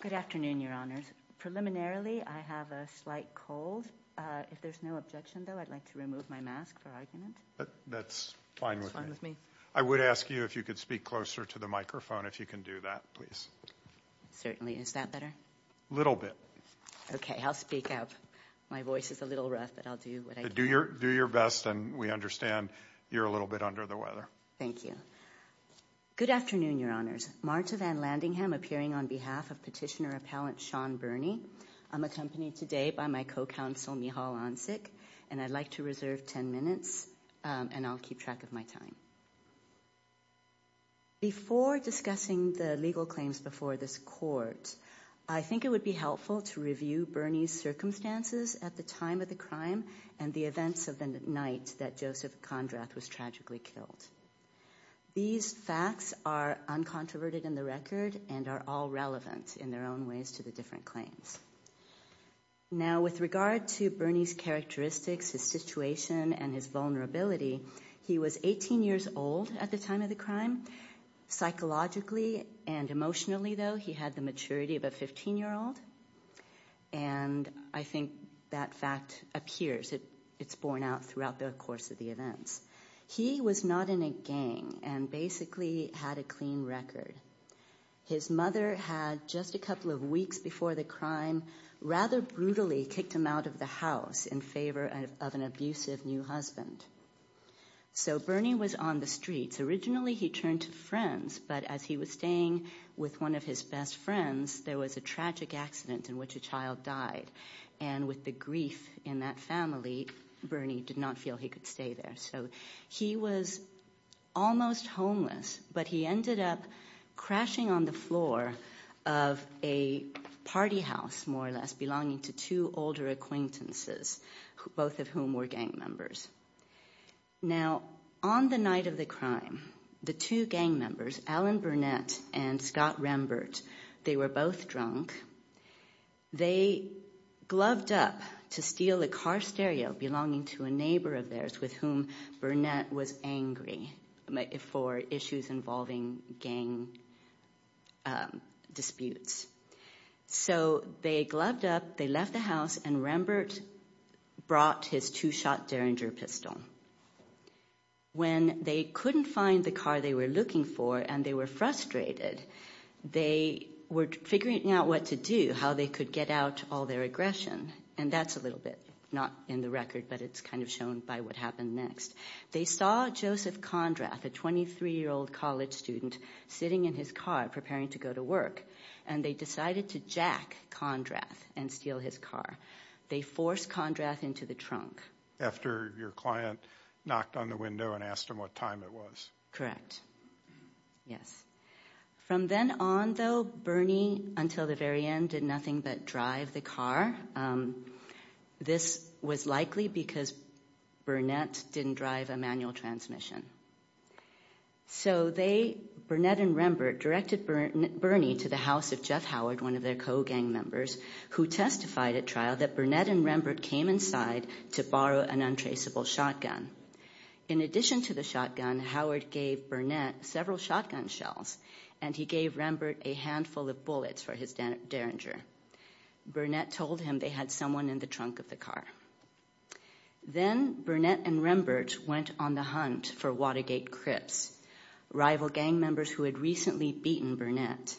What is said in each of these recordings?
Good afternoon, your honors. Preliminarily, I have a slight cold. If there's no objection, though, I'd like to remove my mask for argument. That's fine with me. I would ask you if you could speak closer to the microphone, if you can do that, please. Certainly. Is that better? Little bit. Okay, I'll speak up. My voice is a little rough, but I'll do what I can. Do your best, and we understand you're a little bit under the weather. Thank you. Good afternoon, your honors. Marta Van Landingham appearing on behalf of Petitioner Appellant Sean Burney. I'm accompanied today by my co-counsel, Michal Oncic, and I'd like to reserve 10 minutes, and I'll keep track of my time. Before discussing the legal claims before this court, I think it would be helpful to review Burney's circumstances at the time of the crime and the events of the night that Joseph Condrath was tragically killed. These facts are uncontroverted in the record and are all relevant in their own ways to the different claims. Now, with regard to Burney's characteristics, his situation, and his vulnerability, he was 18 years old at the time of the crime. Psychologically and emotionally, though, he had the maturity of a 15-year-old, and I think that fact appears. It's borne out throughout the course of the events. He was not in a gang and basically had a clean record. His mother had, just a couple of weeks before the crime, rather brutally kicked him out of the house in favor of an abusive new husband. So Burney was on the streets. Originally, he turned to friends, but as he was staying with one of his best friends, there was a tragic accident in which a child died. And with the grief in that family, Burney did not feel he could stay there. So he was almost homeless, but he ended up crashing on the floor of a party house, more or less, belonging to two older acquaintances, both of whom were gang members. Now, on the night of the crime, the two gang members, Alan Burnett and Scott Rembert, they were both drunk. They gloved up to steal a car stereo belonging to a neighbor of theirs with whom Burnett was angry for issues involving gang disputes. So they gloved up, they left the house, and Rembert brought his two-shot Derringer pistol. When they couldn't find the car they were looking for and they were frustrated, they were figuring out what to do, how they could get out all their aggression. And that's a little bit not in the record, but it's kind of shown by what happened next. They saw Joseph Condrath, a 23-year-old college student, sitting in his car preparing to go to work, and they decided to jack Condrath and steal his car. They forced Condrath into the trunk. After your client knocked on the window and asked him what time it was? Yes. From then on, though, Burnett, until the very end, did nothing but drive the car. This was likely because Burnett didn't drive a manual transmission. So Burnett and Rembert directed Burnett to the house of Jeff Howard, one of their co-gang members, who testified at trial that Burnett and Rembert came inside to borrow an untraceable shotgun. In addition to the shotgun, Howard gave Burnett several shotgun shells, and he gave Rembert a handful of bullets for his Derringer. Burnett told him they had someone in the trunk of the car. Then Burnett and Rembert went on the hunt for Watergate Crips, rival gang members who had recently beaten Burnett.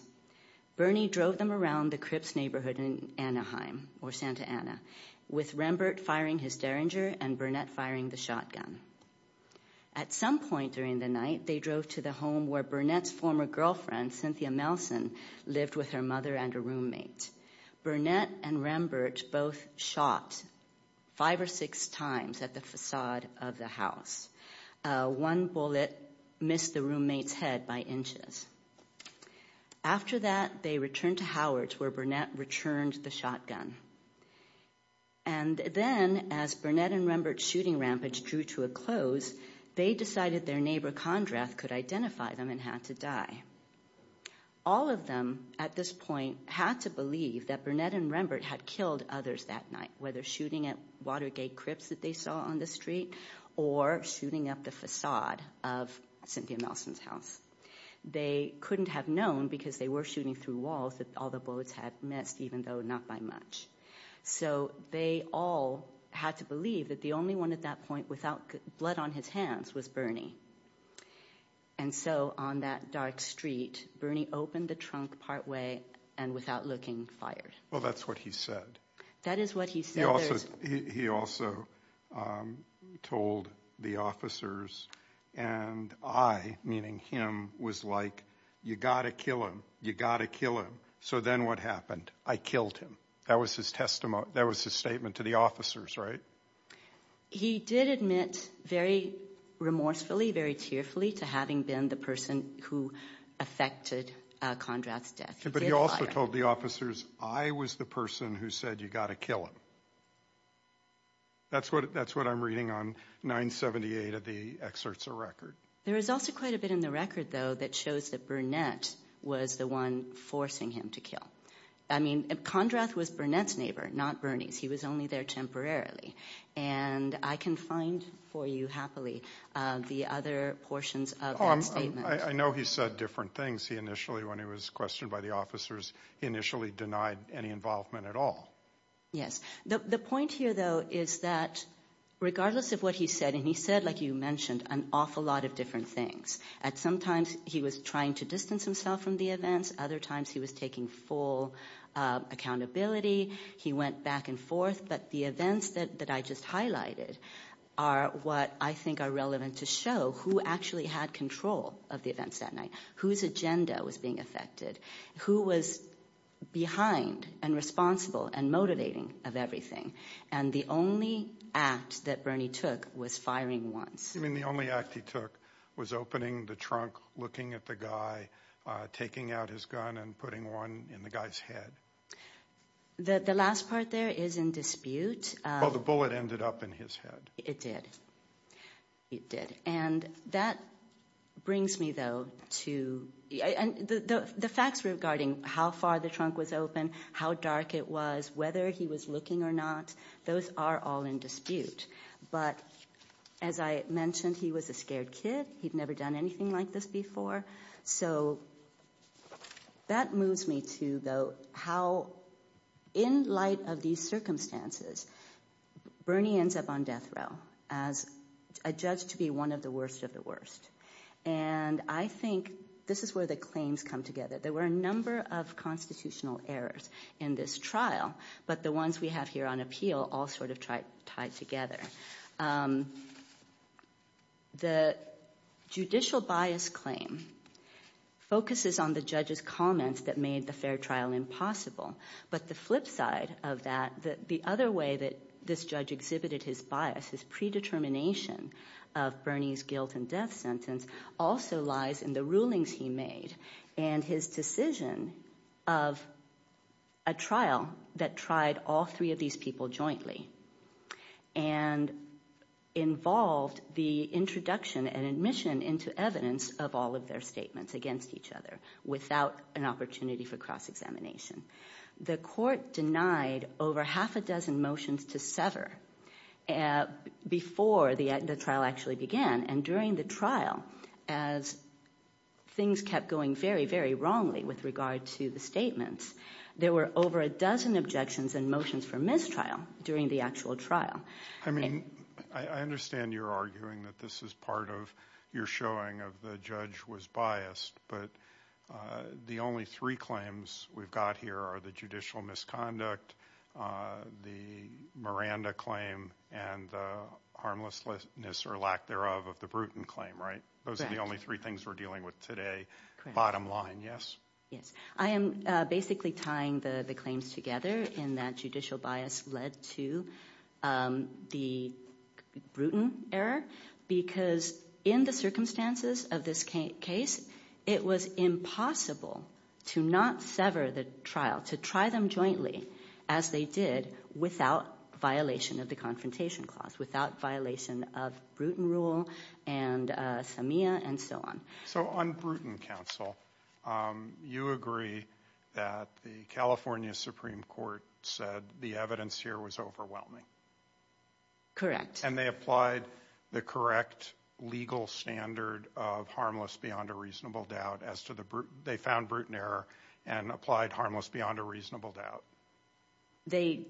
Bernie drove them around the Crips neighborhood in Anaheim, or Santa Ana, with Rembert firing his Derringer and Burnett firing the shotgun. At some point during the night, they drove to the home where Burnett's former girlfriend, Cynthia Melson, lived with her mother and a roommate. Burnett and Rembert both shot five or six times at the facade of the house. One bullet missed the roommate's head by inches. After that, they returned to Howard's where Burnett returned the shotgun. And then, as Burnett and Rembert's shooting rampage drew to a close, they decided their neighbor, Condrath, could identify them and had to die. All of them, at this point, had to believe that Burnett and Rembert had killed others that night, whether shooting at Watergate Crips that they saw on the street or shooting at the facade of Cynthia Melson's house. They couldn't have known, because they were shooting through walls, that all the bullets had missed, even though not by much. So they all had to believe that the only one at that point without blood on his hands was Bernie. And so, on that dark street, Bernie opened the trunk partway and, without looking, fired. Well, that's what he said. That is what he said. He also told the officers, and I, meaning him, was like, you gotta kill him, you gotta kill him. So then what happened? I killed him. That was his testimony, that was his statement to the officers, right? He did admit, very remorsefully, very tearfully, to having been the person who affected Condrath's death. But he also told the officers, I was the person who said, you gotta kill him. That's what I'm reading on 978 of the excerpts of the record. There is also quite a bit in the record, though, that shows that Burnett was the one forcing him to kill. I mean, Condrath was Burnett's neighbor, not Bernie's. He was only there temporarily. And I can find for you, happily, the other portions of that statement. I know he said different things. Because he initially, when he was questioned by the officers, he initially denied any involvement at all. Yes. The point here, though, is that regardless of what he said, and he said, like you mentioned, an awful lot of different things. At some times, he was trying to distance himself from the events. Other times, he was taking full accountability. He went back and forth. But the events that I just highlighted are what I think are relevant to show who actually had control of the events that night. Whose agenda was being affected. Who was behind and responsible and motivating of everything. And the only act that Bernie took was firing once. You mean the only act he took was opening the trunk, looking at the guy, taking out his gun, and putting one in the guy's head? The last part there is in dispute. Well, the bullet ended up in his head. It did. It did. And that brings me, though, to the facts regarding how far the trunk was open, how dark it was, whether he was looking or not, those are all in dispute. But as I mentioned, he was a scared kid. He'd never done anything like this before. So that moves me to, though, how in light of these circumstances, Bernie ends up on the side of the worst of the worst. And I think this is where the claims come together. There were a number of constitutional errors in this trial, but the ones we have here on appeal all sort of tied together. The judicial bias claim focuses on the judge's comments that made the fair trial impossible. But the flip side of that, the other way that this judge exhibited his bias, his predetermination of Bernie's guilt and death sentence, also lies in the rulings he made and his decision of a trial that tried all three of these people jointly and involved the introduction and admission into evidence of all of their statements against each other without an opportunity for cross-examination. The court denied over half a dozen motions to sever before the trial actually began. And during the trial, as things kept going very, very wrongly with regard to the statements, there were over a dozen objections and motions for mistrial during the actual trial. I mean, I understand you're arguing that this is part of your showing of the judge was biased, but the only three claims we've got here are the judicial misconduct, the Miranda claim, and the harmlessness or lack thereof of the Bruton claim, right? Those are the only three things we're dealing with today. Bottom line, yes? Yes. I am basically tying the claims together in that judicial bias led to the Bruton error because in the circumstances of this case, it was impossible to not sever the trial, to try them jointly as they did without violation of the Confrontation Clause, without violation of Bruton rule and SAMEA and so on. So on Bruton counsel, you agree that the California Supreme Court said the evidence here was overwhelming. Correct. And they applied the correct legal standard of harmless beyond a reasonable doubt as to the Bruton, they found Bruton error and applied harmless beyond a reasonable doubt. They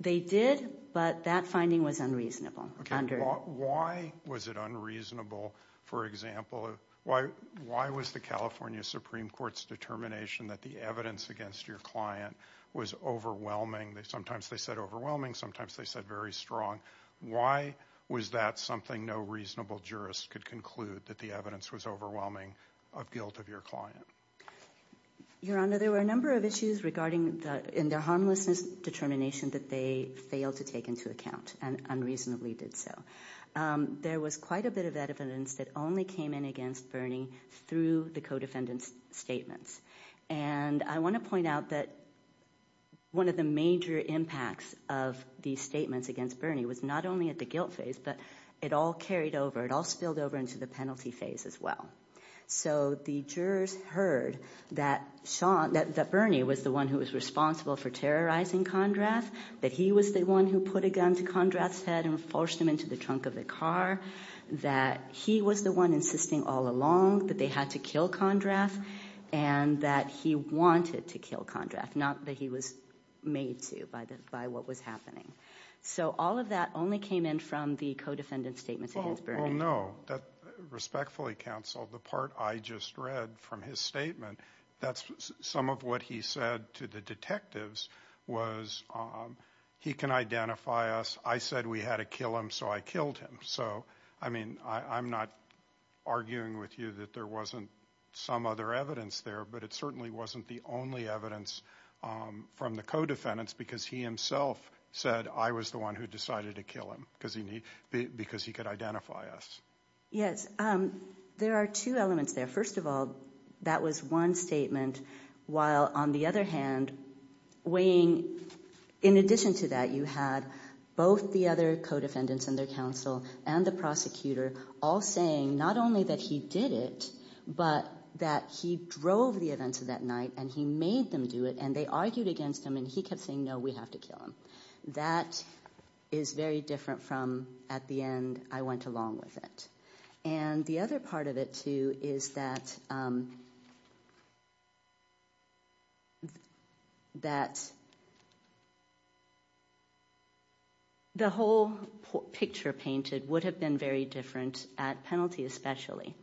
did, but that finding was unreasonable. Why was it unreasonable, for example, why was the California Supreme Court's determination that the evidence against your client was overwhelming, sometimes they said overwhelming, sometimes they said very strong, why was that something no reasonable jurist could conclude, that the evidence was overwhelming of guilt of your client? Your Honor, there were a number of issues regarding in their harmlessness determination that they failed to take into account and unreasonably did so. There was quite a bit of evidence that only came in against Bernie through the co-defendant's statements. And I want to point out that one of the major impacts of these statements against Bernie was not only at the guilt phase, but it all carried over, it all spilled over into the penalty phase as well. So the jurors heard that Bernie was the one who was responsible for terrorizing Condrath, that he was the one who put a gun to Condrath's head and forced him into the trunk of the car, that he was the one insisting all along that they had to kill Condrath and that he wanted to kill Condrath, not that he was made to by what was happening. So all of that only came in from the co-defendant's statements against Bernie. Well, no, respectfully counsel, the part I just read from his statement, that's some of what he said to the detectives was he can identify us, I said we had to kill him, so I killed him. So, I mean, I'm not arguing with you that there wasn't some other evidence there, but it certainly wasn't the only evidence from the co-defendants because he himself said, I was the one who decided to kill him because he could identify us. Yes, there are two elements there. First of all, that was one statement, while on the other hand, weighing in addition to that you had both the other co-defendants and their counsel and the prosecutor all saying, not only that he did it, but that he drove the events of that night and he made them do it and they argued against him and he kept saying, no, we have to kill him. That is very different from, at the end, I went along with it. And the other part of it, too, is that the whole picture painted would have been very different at penalty especially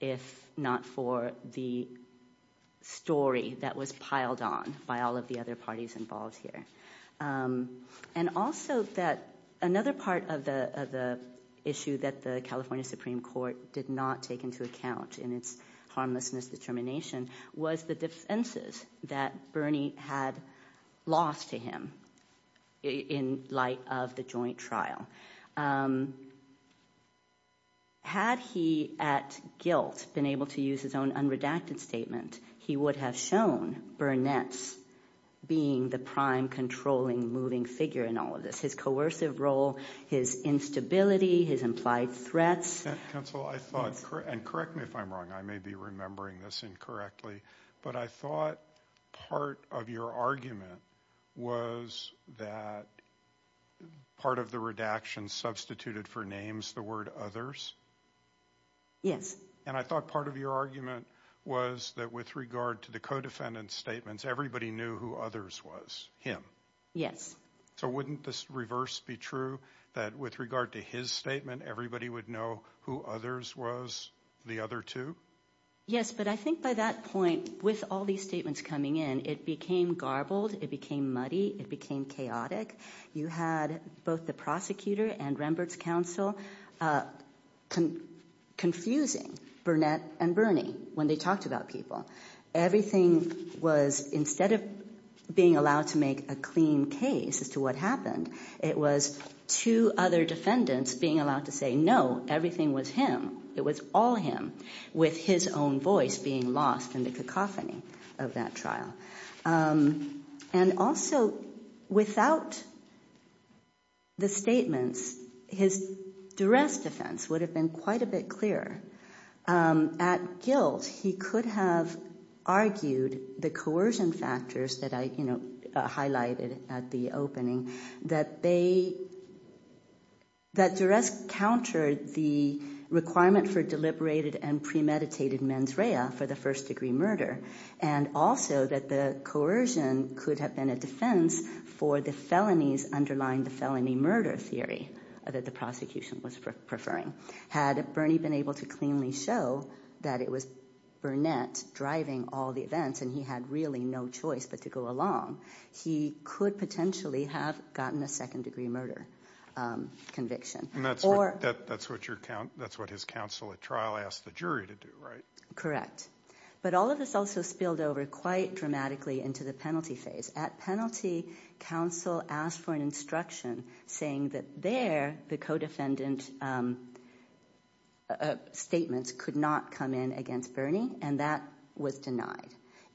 if not for the story that was piled on by all of the other parties involved here. And also that another part of the issue that the California Supreme Court did not take into account in its harmlessness determination was the defenses that Bernie had lost to him in light of the joint trial. Had he at guilt been able to use his own unredacted statement, he would have shown Burnett's being the prime controlling moving figure in all of this. His coercive role, his instability, his implied threats. Counsel, I thought, and correct me if I'm wrong, I may be remembering this incorrectly, but I thought part of your argument was that part of the redaction substituted for names the word others. Yes. And I thought part of your argument was that with regard to the co-defendant's statements, everybody knew who others was, him. Yes. So wouldn't this reverse be true that with regard to his statement, everybody would know who others was, the other two? Yes, but I think by that point, with all these statements coming in, it became garbled, it became muddy, it became chaotic. You had both the prosecutor and Rembrandt's counsel confusing Burnett and Bernie when they talked about people. Everything was, instead of being allowed to make a clean case as to what happened, it was two other defendants being allowed to say, no, everything was him, it was all him, with his own voice being lost in the cacophony of that trial. And also, without the statements, his duress defense would have been quite a bit clearer. At guilt, he could have argued the coercion factors that I, you know, highlighted at the opening, that they, that duress countered the requirement for deliberated and premeditated mens rea for the first degree murder. And also, that the coercion could have been a defense for the felonies underlying the felony murder theory that the prosecution was preferring. Had Bernie been able to cleanly show that it was Burnett driving all the events and he had really no choice but to go along, he could potentially have gotten a second degree murder conviction. That's what your, that's what his counsel at trial asked the jury to do, right? Correct. But all of this also spilled over quite dramatically into the penalty phase. At penalty, counsel asked for an instruction saying that there, the co-defendant statements could not come in against Bernie and that was denied.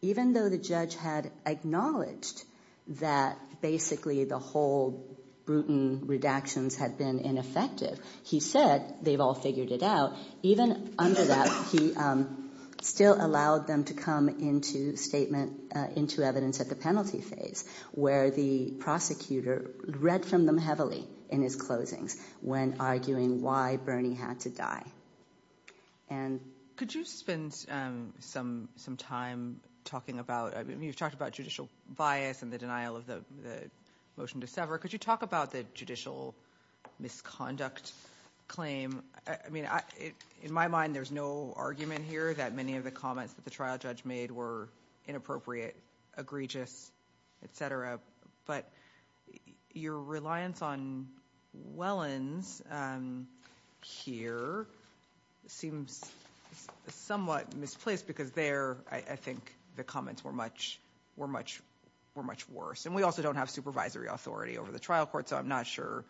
Even though the judge had acknowledged that basically the whole Bruton redactions had been ineffective, he said they've all figured it out. Even under that, he still allowed them to come into statement, into evidence at the penalty phase where the prosecutor read from them heavily in his closings when arguing why Bernie had to die. And... Could you spend some time talking about, you've talked about judicial bias and the denial of the motion to sever. Could you talk about the judicial misconduct claim? I mean, in my mind, there's no argument here that many of the comments that the trial judge made were inappropriate, egregious, etc. But your reliance on Wellens here seems somewhat misplaced because there I think the comments were much worse. And we also don't have supervisory authority over the trial court, so I'm not sure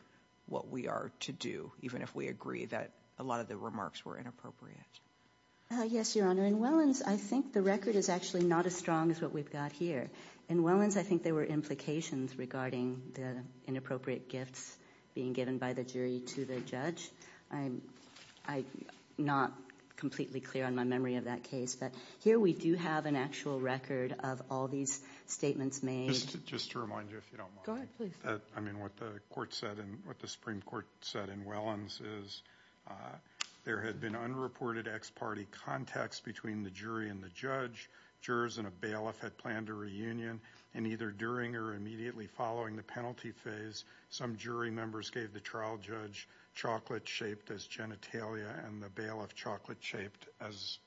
what we are to do, even if we agree that a lot of the remarks were inappropriate. Yes, Your Honor. In Wellens, I think the record is actually not as strong as what we've got here. In Wellens, I think there were implications regarding the inappropriate gifts being given by the jury to the judge. I'm not completely clear on my memory of that case, but here we do have an actual record of all these statements made. Just to remind you if you don't mind. Go ahead, please. I mean, what the Supreme Court said in Wellens is there had been unreported ex-party contacts between the jury and the judge. Jurors in a bailiff had planned a reunion, and either during or immediately following the penalty phase, some jury members gave the trial judge chocolate shaped as genitalia and the bailiff chocolate shaped as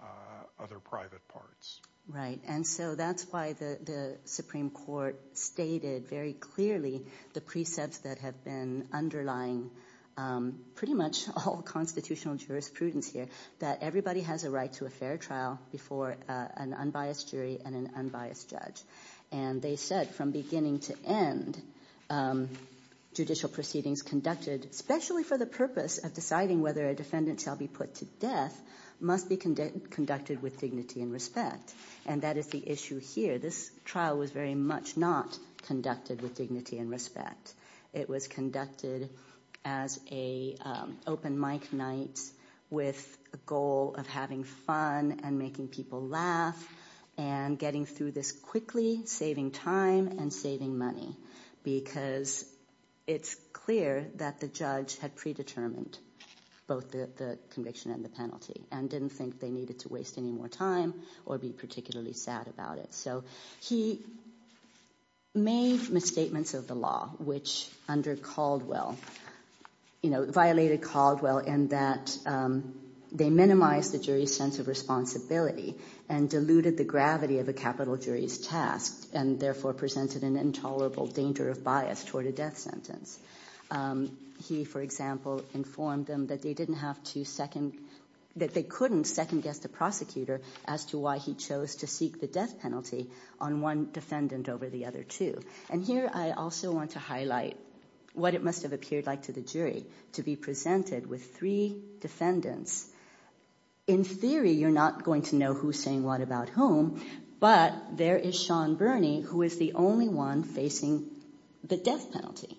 other private parts. Right. And so that's why the Supreme Court stated very clearly the precepts that have been underlying pretty much all constitutional jurisprudence here, that everybody has a right to a fair trial before an unbiased jury and an unbiased judge. And they said from beginning to end, judicial proceedings conducted, especially for the purpose of deciding whether a defendant shall be put to death, must be conducted with dignity and respect. And that is the issue here. This trial was very much not conducted with dignity and respect. It was conducted as a open mic night with a goal of having fun and making people laugh and getting through this quickly, saving time and saving money. Because it's clear that the judge had predetermined both the conviction and the penalty and didn't think they needed to waste any more time or be particularly sad about it. So he made misstatements of the law, which under Caldwell, you know, violated Caldwell in that they minimized the jury's sense of responsibility and diluted the gravity of a capital jury's task and therefore presented an intolerable danger of bias toward a death sentence. He, for example, informed them that they didn't have to second, that they couldn't second guess the prosecutor as to why he chose to seek the death penalty on one defendant over the other two. And here I also want to highlight what it must have appeared like to the jury to be presented with three defendants. In theory, you're not going to know who's saying what about whom, but there is Sean Burney who is the only one facing the death penalty.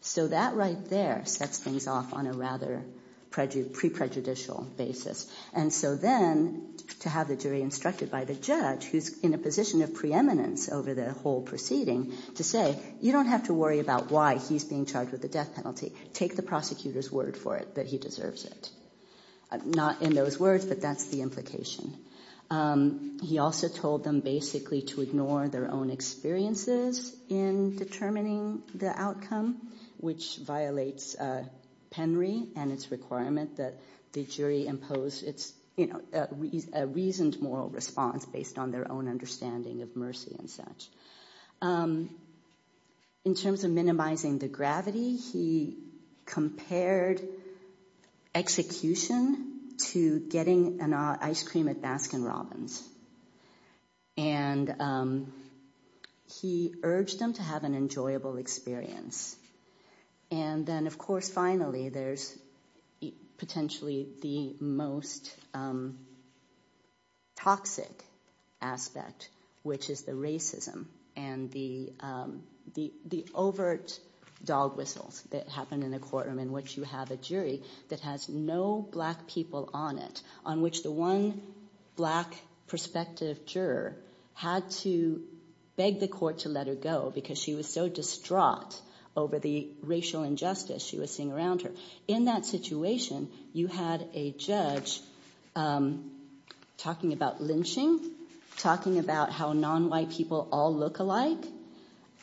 So that right there sets things off on a rather pre-prejudicial basis. And so then to have the jury instructed by the judge who's in a position of preeminence over the whole proceeding to say, you don't have to worry about why he's being charged with the death penalty, take the prosecutor's word for it that he deserves it. Not in those words, but that's the implication. He also told them basically to ignore their own experiences in determining the outcome, which violates Penry and its requirement that the jury impose its, you know, a reasoned moral response based on their own understanding of mercy and such. In terms of minimizing the gravity, he compared execution to getting an ice cream at Baskin Robbins, and he urged them to have an enjoyable experience. And then, of course, finally, there's potentially the most toxic aspect, which is the racism and the overt dog whistles that happen in a courtroom in which you have a jury that has no black people on it, on which the one black prospective juror had to beg the court to let her go because she was so distraught over the racial injustice she was seeing around her. In that situation, you had a judge talking about lynching, talking about how non-white people all look alike,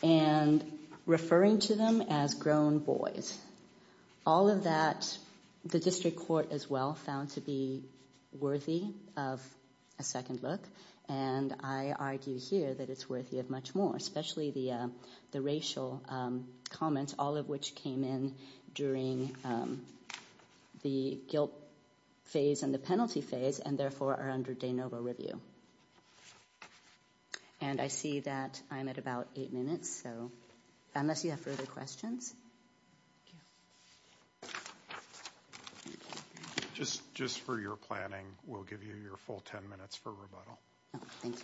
and referring to them as grown boys. All of that, the district court as well found to be worthy of a second look, and I argue here that it's worthy of much more, especially the racial comments, all of which came in during the guilt phase and the penalty phase, and therefore are under de novo review. And I see that I'm at about eight minutes, so unless you have further questions. Thank you. Just for your planning, we'll give you your full ten minutes for rebuttal. Thank you.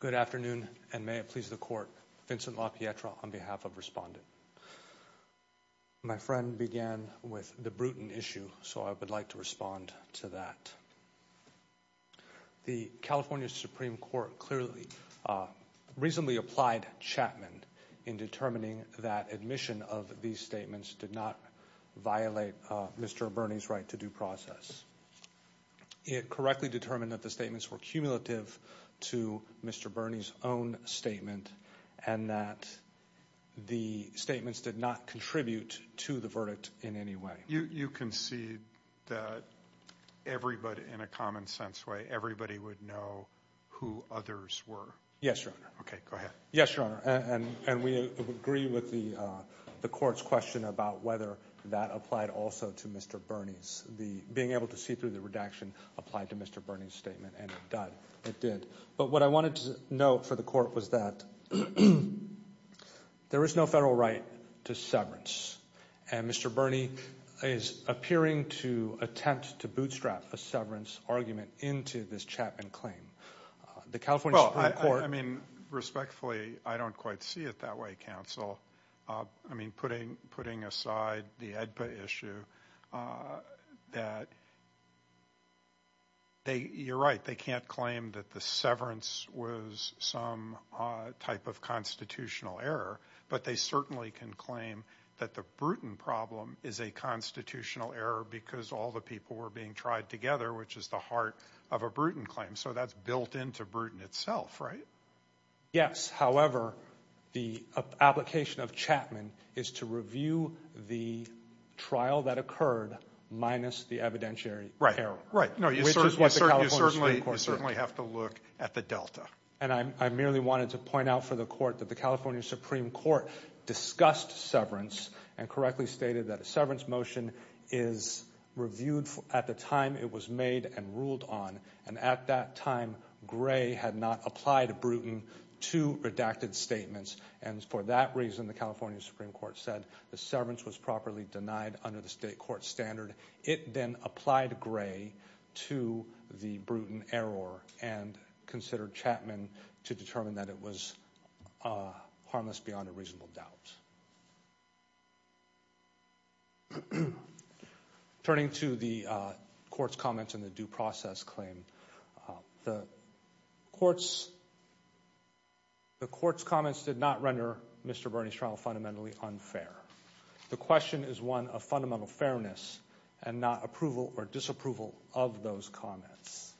Good afternoon, and may it please the court. Vincent LaPietra on behalf of Respondent. My friend began with the Bruton issue, so I would like to respond to that. The California Supreme Court clearly, reasonably applied Chapman in determining that admission of these statements did not violate Mr. Burney's right to due process. It correctly determined that the statements were cumulative to Mr. Burney's own statement, and that the statements did not contribute to the verdict in any way. You concede that everybody, in a common sense way, everybody would know who others were? Yes, Your Honor. Okay, go ahead. Yes, Your Honor, and we agree with the court's question about whether that applied also to Mr. Burney's, being able to see through the redaction applied to Mr. Burney's statement, and it did. But what I wanted to note for the court was that there is no federal right to severance, and Mr. Burney is appearing to attempt to bootstrap a severance argument into this Chapman claim. The California Supreme Court. I mean, respectfully, I don't quite see it that way, counsel. I mean, putting aside the AEDPA issue, that they, you're right, they can't claim that the severance was some type of constitutional error, but they certainly can claim that the Bruton problem is a constitutional error because all the people were being tried together, which is the heart of a Bruton claim. So that's built into Bruton itself, right? Yes, however, the application of Chapman is to review the trial that occurred minus the evidentiary error. Right, right. Which is what the California Supreme Court said. You certainly have to look at the delta. And I merely wanted to point out for the court that the California Supreme Court discussed severance and correctly stated that a severance motion is reviewed at the time it was made and ruled on, and at that time, Gray had not applied Bruton to redacted statements, and for that reason, the California Supreme Court said the severance was properly denied under the state court standard. It then applied Gray to the Bruton error and considered Chapman to determine that it was harmless beyond a reasonable doubt. Turning to the court's comments and the due process claim, the court's comments did not render Mr. Bernie's trial fundamentally unfair. The question is one of fundamental fairness and not approval or disapproval of those comments.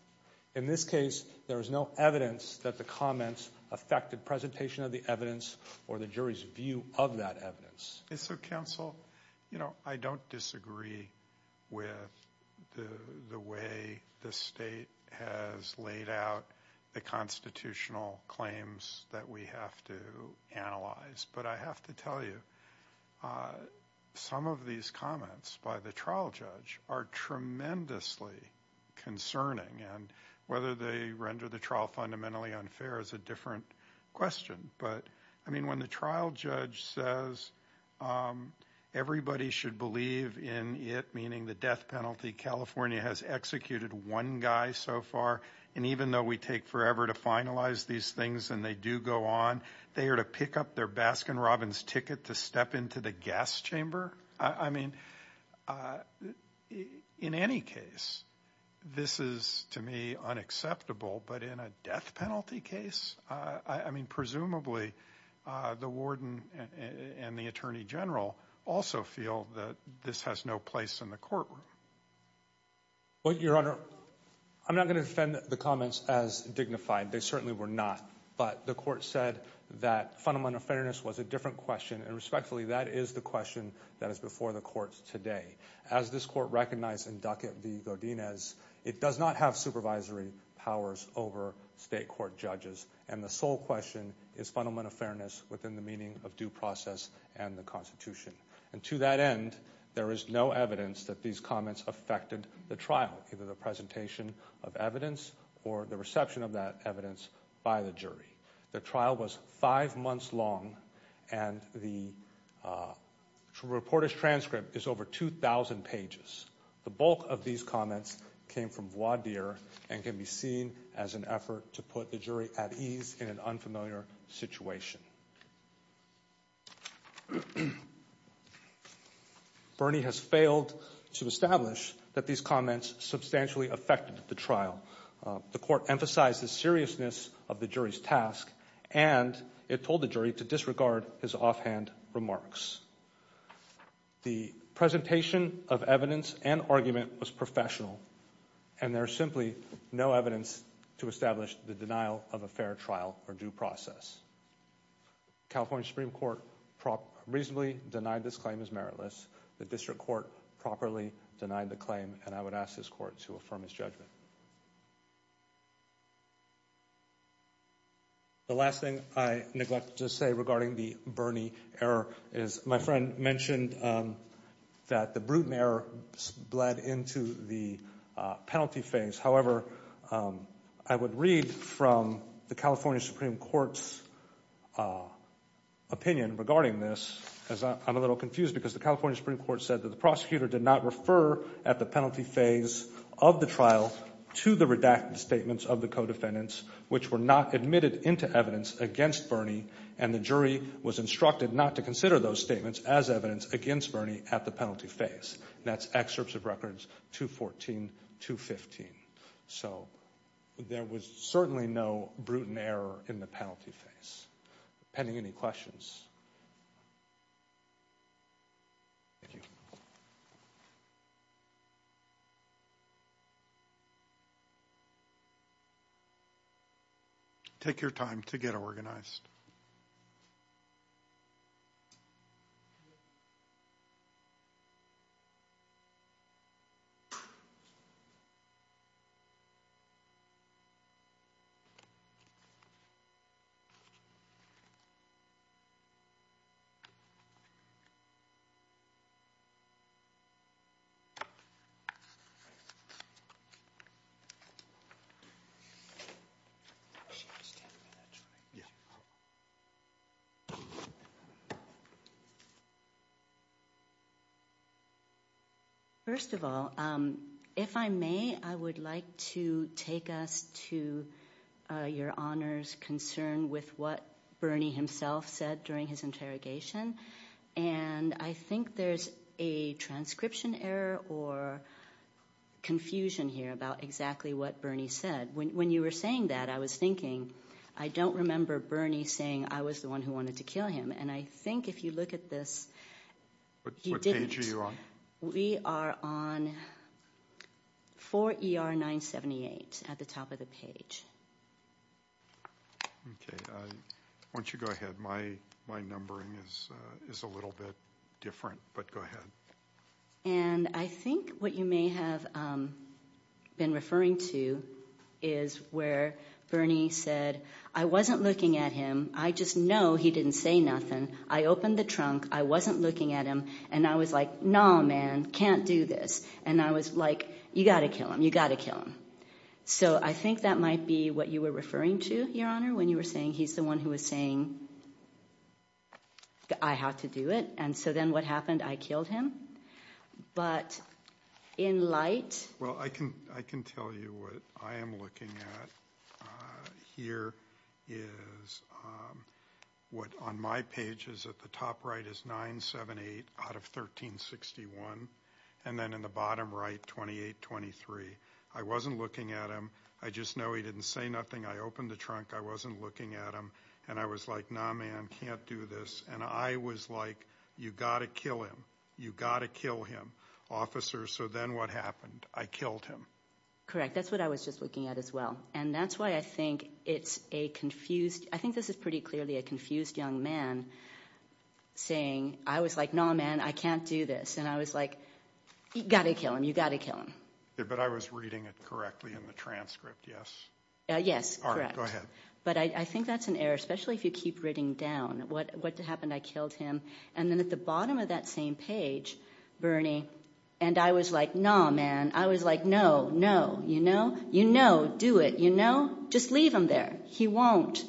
In this case, there is no evidence that the comments affected presentation of the evidence or the jury's view of that evidence. And so, counsel, you know, I don't disagree with the way the state has laid out the constitutional claims that we have to analyze. But I have to tell you, some of these comments by the trial judge are tremendously concerning. And whether they render the trial fundamentally unfair is a different question. But, I mean, when the trial judge says everybody should believe in it, meaning the death penalty, California has executed one guy so far, and even though we take forever to finalize these things and they do go on, they are to pick up their Baskin-Robbins ticket to step into the gas chamber? I mean, in any case, this is, to me, unacceptable. But in a death penalty case? I mean, presumably, the warden and the attorney general also feel that this has no place in the courtroom. Well, Your Honor, I'm not going to defend the comments as dignified. They certainly were not. But the court said that fundamental fairness was a different question, and respectfully, that is the question that is before the courts today. As this court recognized in Ducat v. Godinez, it does not have supervisory powers over state court judges, and the sole question is fundamental fairness within the meaning of due process and the Constitution. And to that end, there is no evidence that these comments affected the trial, either the presentation of evidence or the reception of that evidence by the jury. The trial was five months long, and the reporter's transcript is over 2,000 pages. The bulk of these comments came from voir dire and can be seen as an effort to put the jury at ease in an unfamiliar situation. Bernie has failed to establish that these comments substantially affected the trial. The court emphasized the seriousness of the jury's task, and it told the jury to disregard his offhand remarks. The presentation of evidence and argument was professional, and there is simply no evidence to establish the denial of a fair trial or due process. California Supreme Court reasonably denied this claim as meritless. The district court properly denied the claim, and I would ask this court to affirm his judgment. The last thing I neglect to say regarding the Bernie error is my friend mentioned that the Bruton error bled into the penalty phase. However, I would read from the California Supreme Court's opinion regarding this, because I'm a little confused, because the California Supreme Court said that the prosecutor did not refer at the penalty phase of the trial to the redacted statements of the co-defendants, which were not admitted into evidence against Bernie, and the jury was instructed not to consider those statements as evidence against Bernie at the penalty phase. That's excerpts of records 214, 215. So, there was certainly no Bruton error in the penalty phase. Pending any questions. Thank you. Take your time to get organized. First of all, if I may, I would like to take us to your Honor's concern with what Bernie himself said during his interrogation, and I think there's a transcription error or confusion here about exactly what Bernie said. When you were saying that, I was thinking, I don't remember Bernie saying I was the one who wanted to kill him, and I think if you look at this, he didn't. What page are you on? We are on 4 ER 978 at the top of the page. Why don't you go ahead. My numbering is a little bit different, but go ahead. And I think what you may have been referring to is where Bernie said, I wasn't looking at him, I just know he didn't say nothing. I opened the trunk, I wasn't looking at him, and I was like, no, man, can't do this. And I was like, you got to kill him, you got to kill him. So I think that might be what you were referring to, your Honor, when you were saying he's the one who was saying I have to do it, and so then what happened, I killed him. But in light. Well, I can tell you what I am looking at here is what on my pages at the top right is 978 out of 1361, and then in the bottom right, 2823. I wasn't looking at him, I just know he didn't say nothing, I opened the trunk, I wasn't looking at him, and I was like, no, man, can't do this. And I was like, you got to kill him, you got to kill him. Officer, so then what happened? I killed him. Correct, that's what I was just looking at as well. And that's why I think it's a confused, I think this is pretty clearly a confused young man saying, I was like, no, man, I can't do this, and I was like, you got to kill him, you got to kill him. But I was reading it correctly in the transcript, yes? Yes, correct. All right, go ahead. But I think that's an error, especially if you keep writing down what happened, I killed him, and then at the bottom of that same page, Bernie, and I was like, no, man, I was like, no, no, you know, you know, do it, you know, just leave him there, he won't.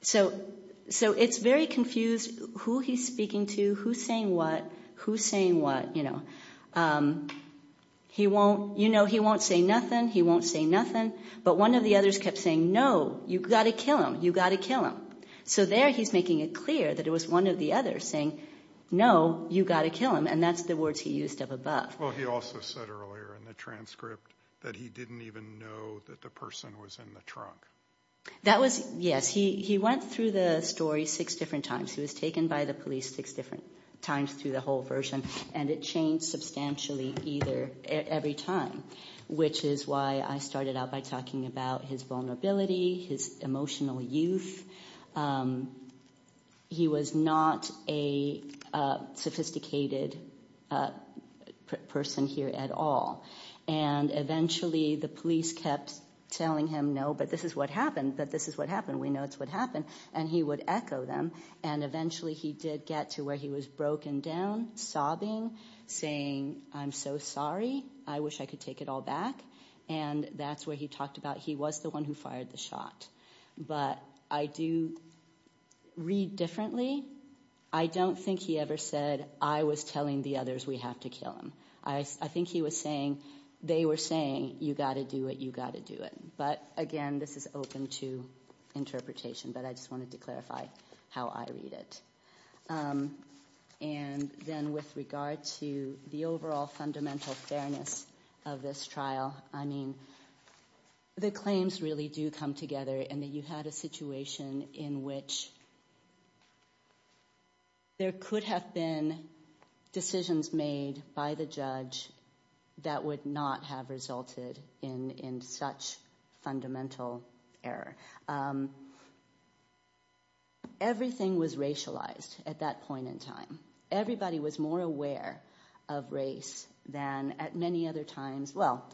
So it's very confused who he's speaking to, who's saying what, who's saying what, you know. He won't, you know, he won't say nothing, he won't say nothing, but one of the others kept saying, no, you got to kill him, you got to kill him. So there he's making it clear that it was one of the others saying, no, you got to kill him, and that's the words he used up above. Well, he also said earlier in the transcript that he didn't even know that the person was in the trunk. That was, yes, he went through the story six different times. He was taken by the police six different times through the whole version, and it changed substantially either, every time, which is why I started out by talking about his vulnerability, his emotional youth, he was not a sophisticated person here at all. And eventually the police kept telling him, no, but this is what happened, that this is what happened, we know it's what happened, and he would echo them. And eventually he did get to where he was broken down, sobbing, saying, I'm so sorry, I wish I could take it all back, and that's where he talked about he was the one who fired the shot. But I do read differently. I don't think he ever said, I was telling the others we have to kill him. I think he was saying, they were saying, you got to do it, you got to do it. But again, this is open to interpretation, but I just wanted to clarify how I read it. And then with regard to the overall fundamental fairness of this trial, I mean, the claims really do come together, and that you had a situation in which there could have been decisions made by the judge that would not have resulted in such fundamental error. Everything was racialized at that point in time. Everybody was more aware of race than at many other times, well,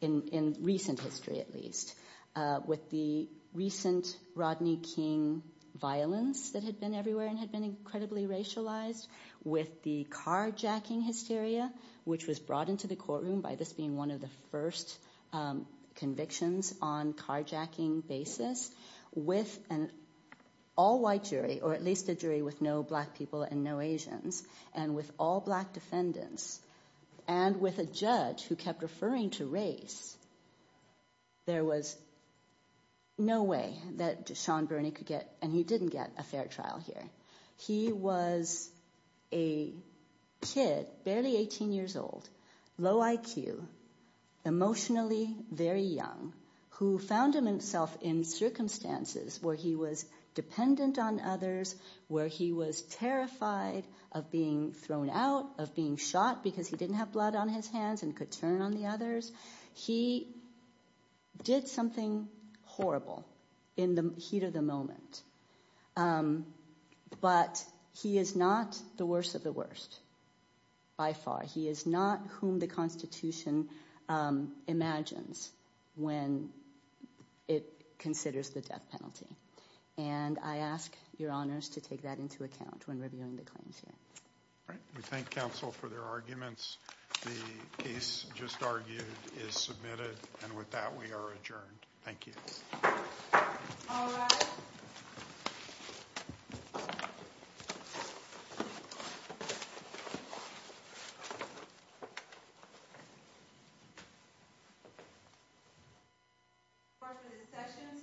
in recent history at least. With the recent Rodney King violence that had been everywhere and had been incredibly racialized, with the carjacking hysteria, which was brought into the courtroom by this being one of the first convictions on carjacking basis, with an all-white jury, or at least a jury with no black people and no Asians, and with all black defendants, and with a judge who kept referring to race, there was no way that Sean Burney could get, and he didn't get, a fair trial here. He was a kid, barely 18 years old, low IQ, emotionally very young, who found himself in circumstances where he was dependent on others, where he was terrified of being thrown out, of being shot because he didn't have blood on his hands and could turn on the others. He did something horrible in the heat of the moment, but he is not the worst of the worst by far. He is not whom the Constitution imagines when it considers the death penalty, and I ask your honors to take that into account when reviewing the claims here. All right, we thank counsel for their arguments. The case just argued is submitted, and with that, we are adjourned. Thank you. All rise. Court is in session. Stand adjourned.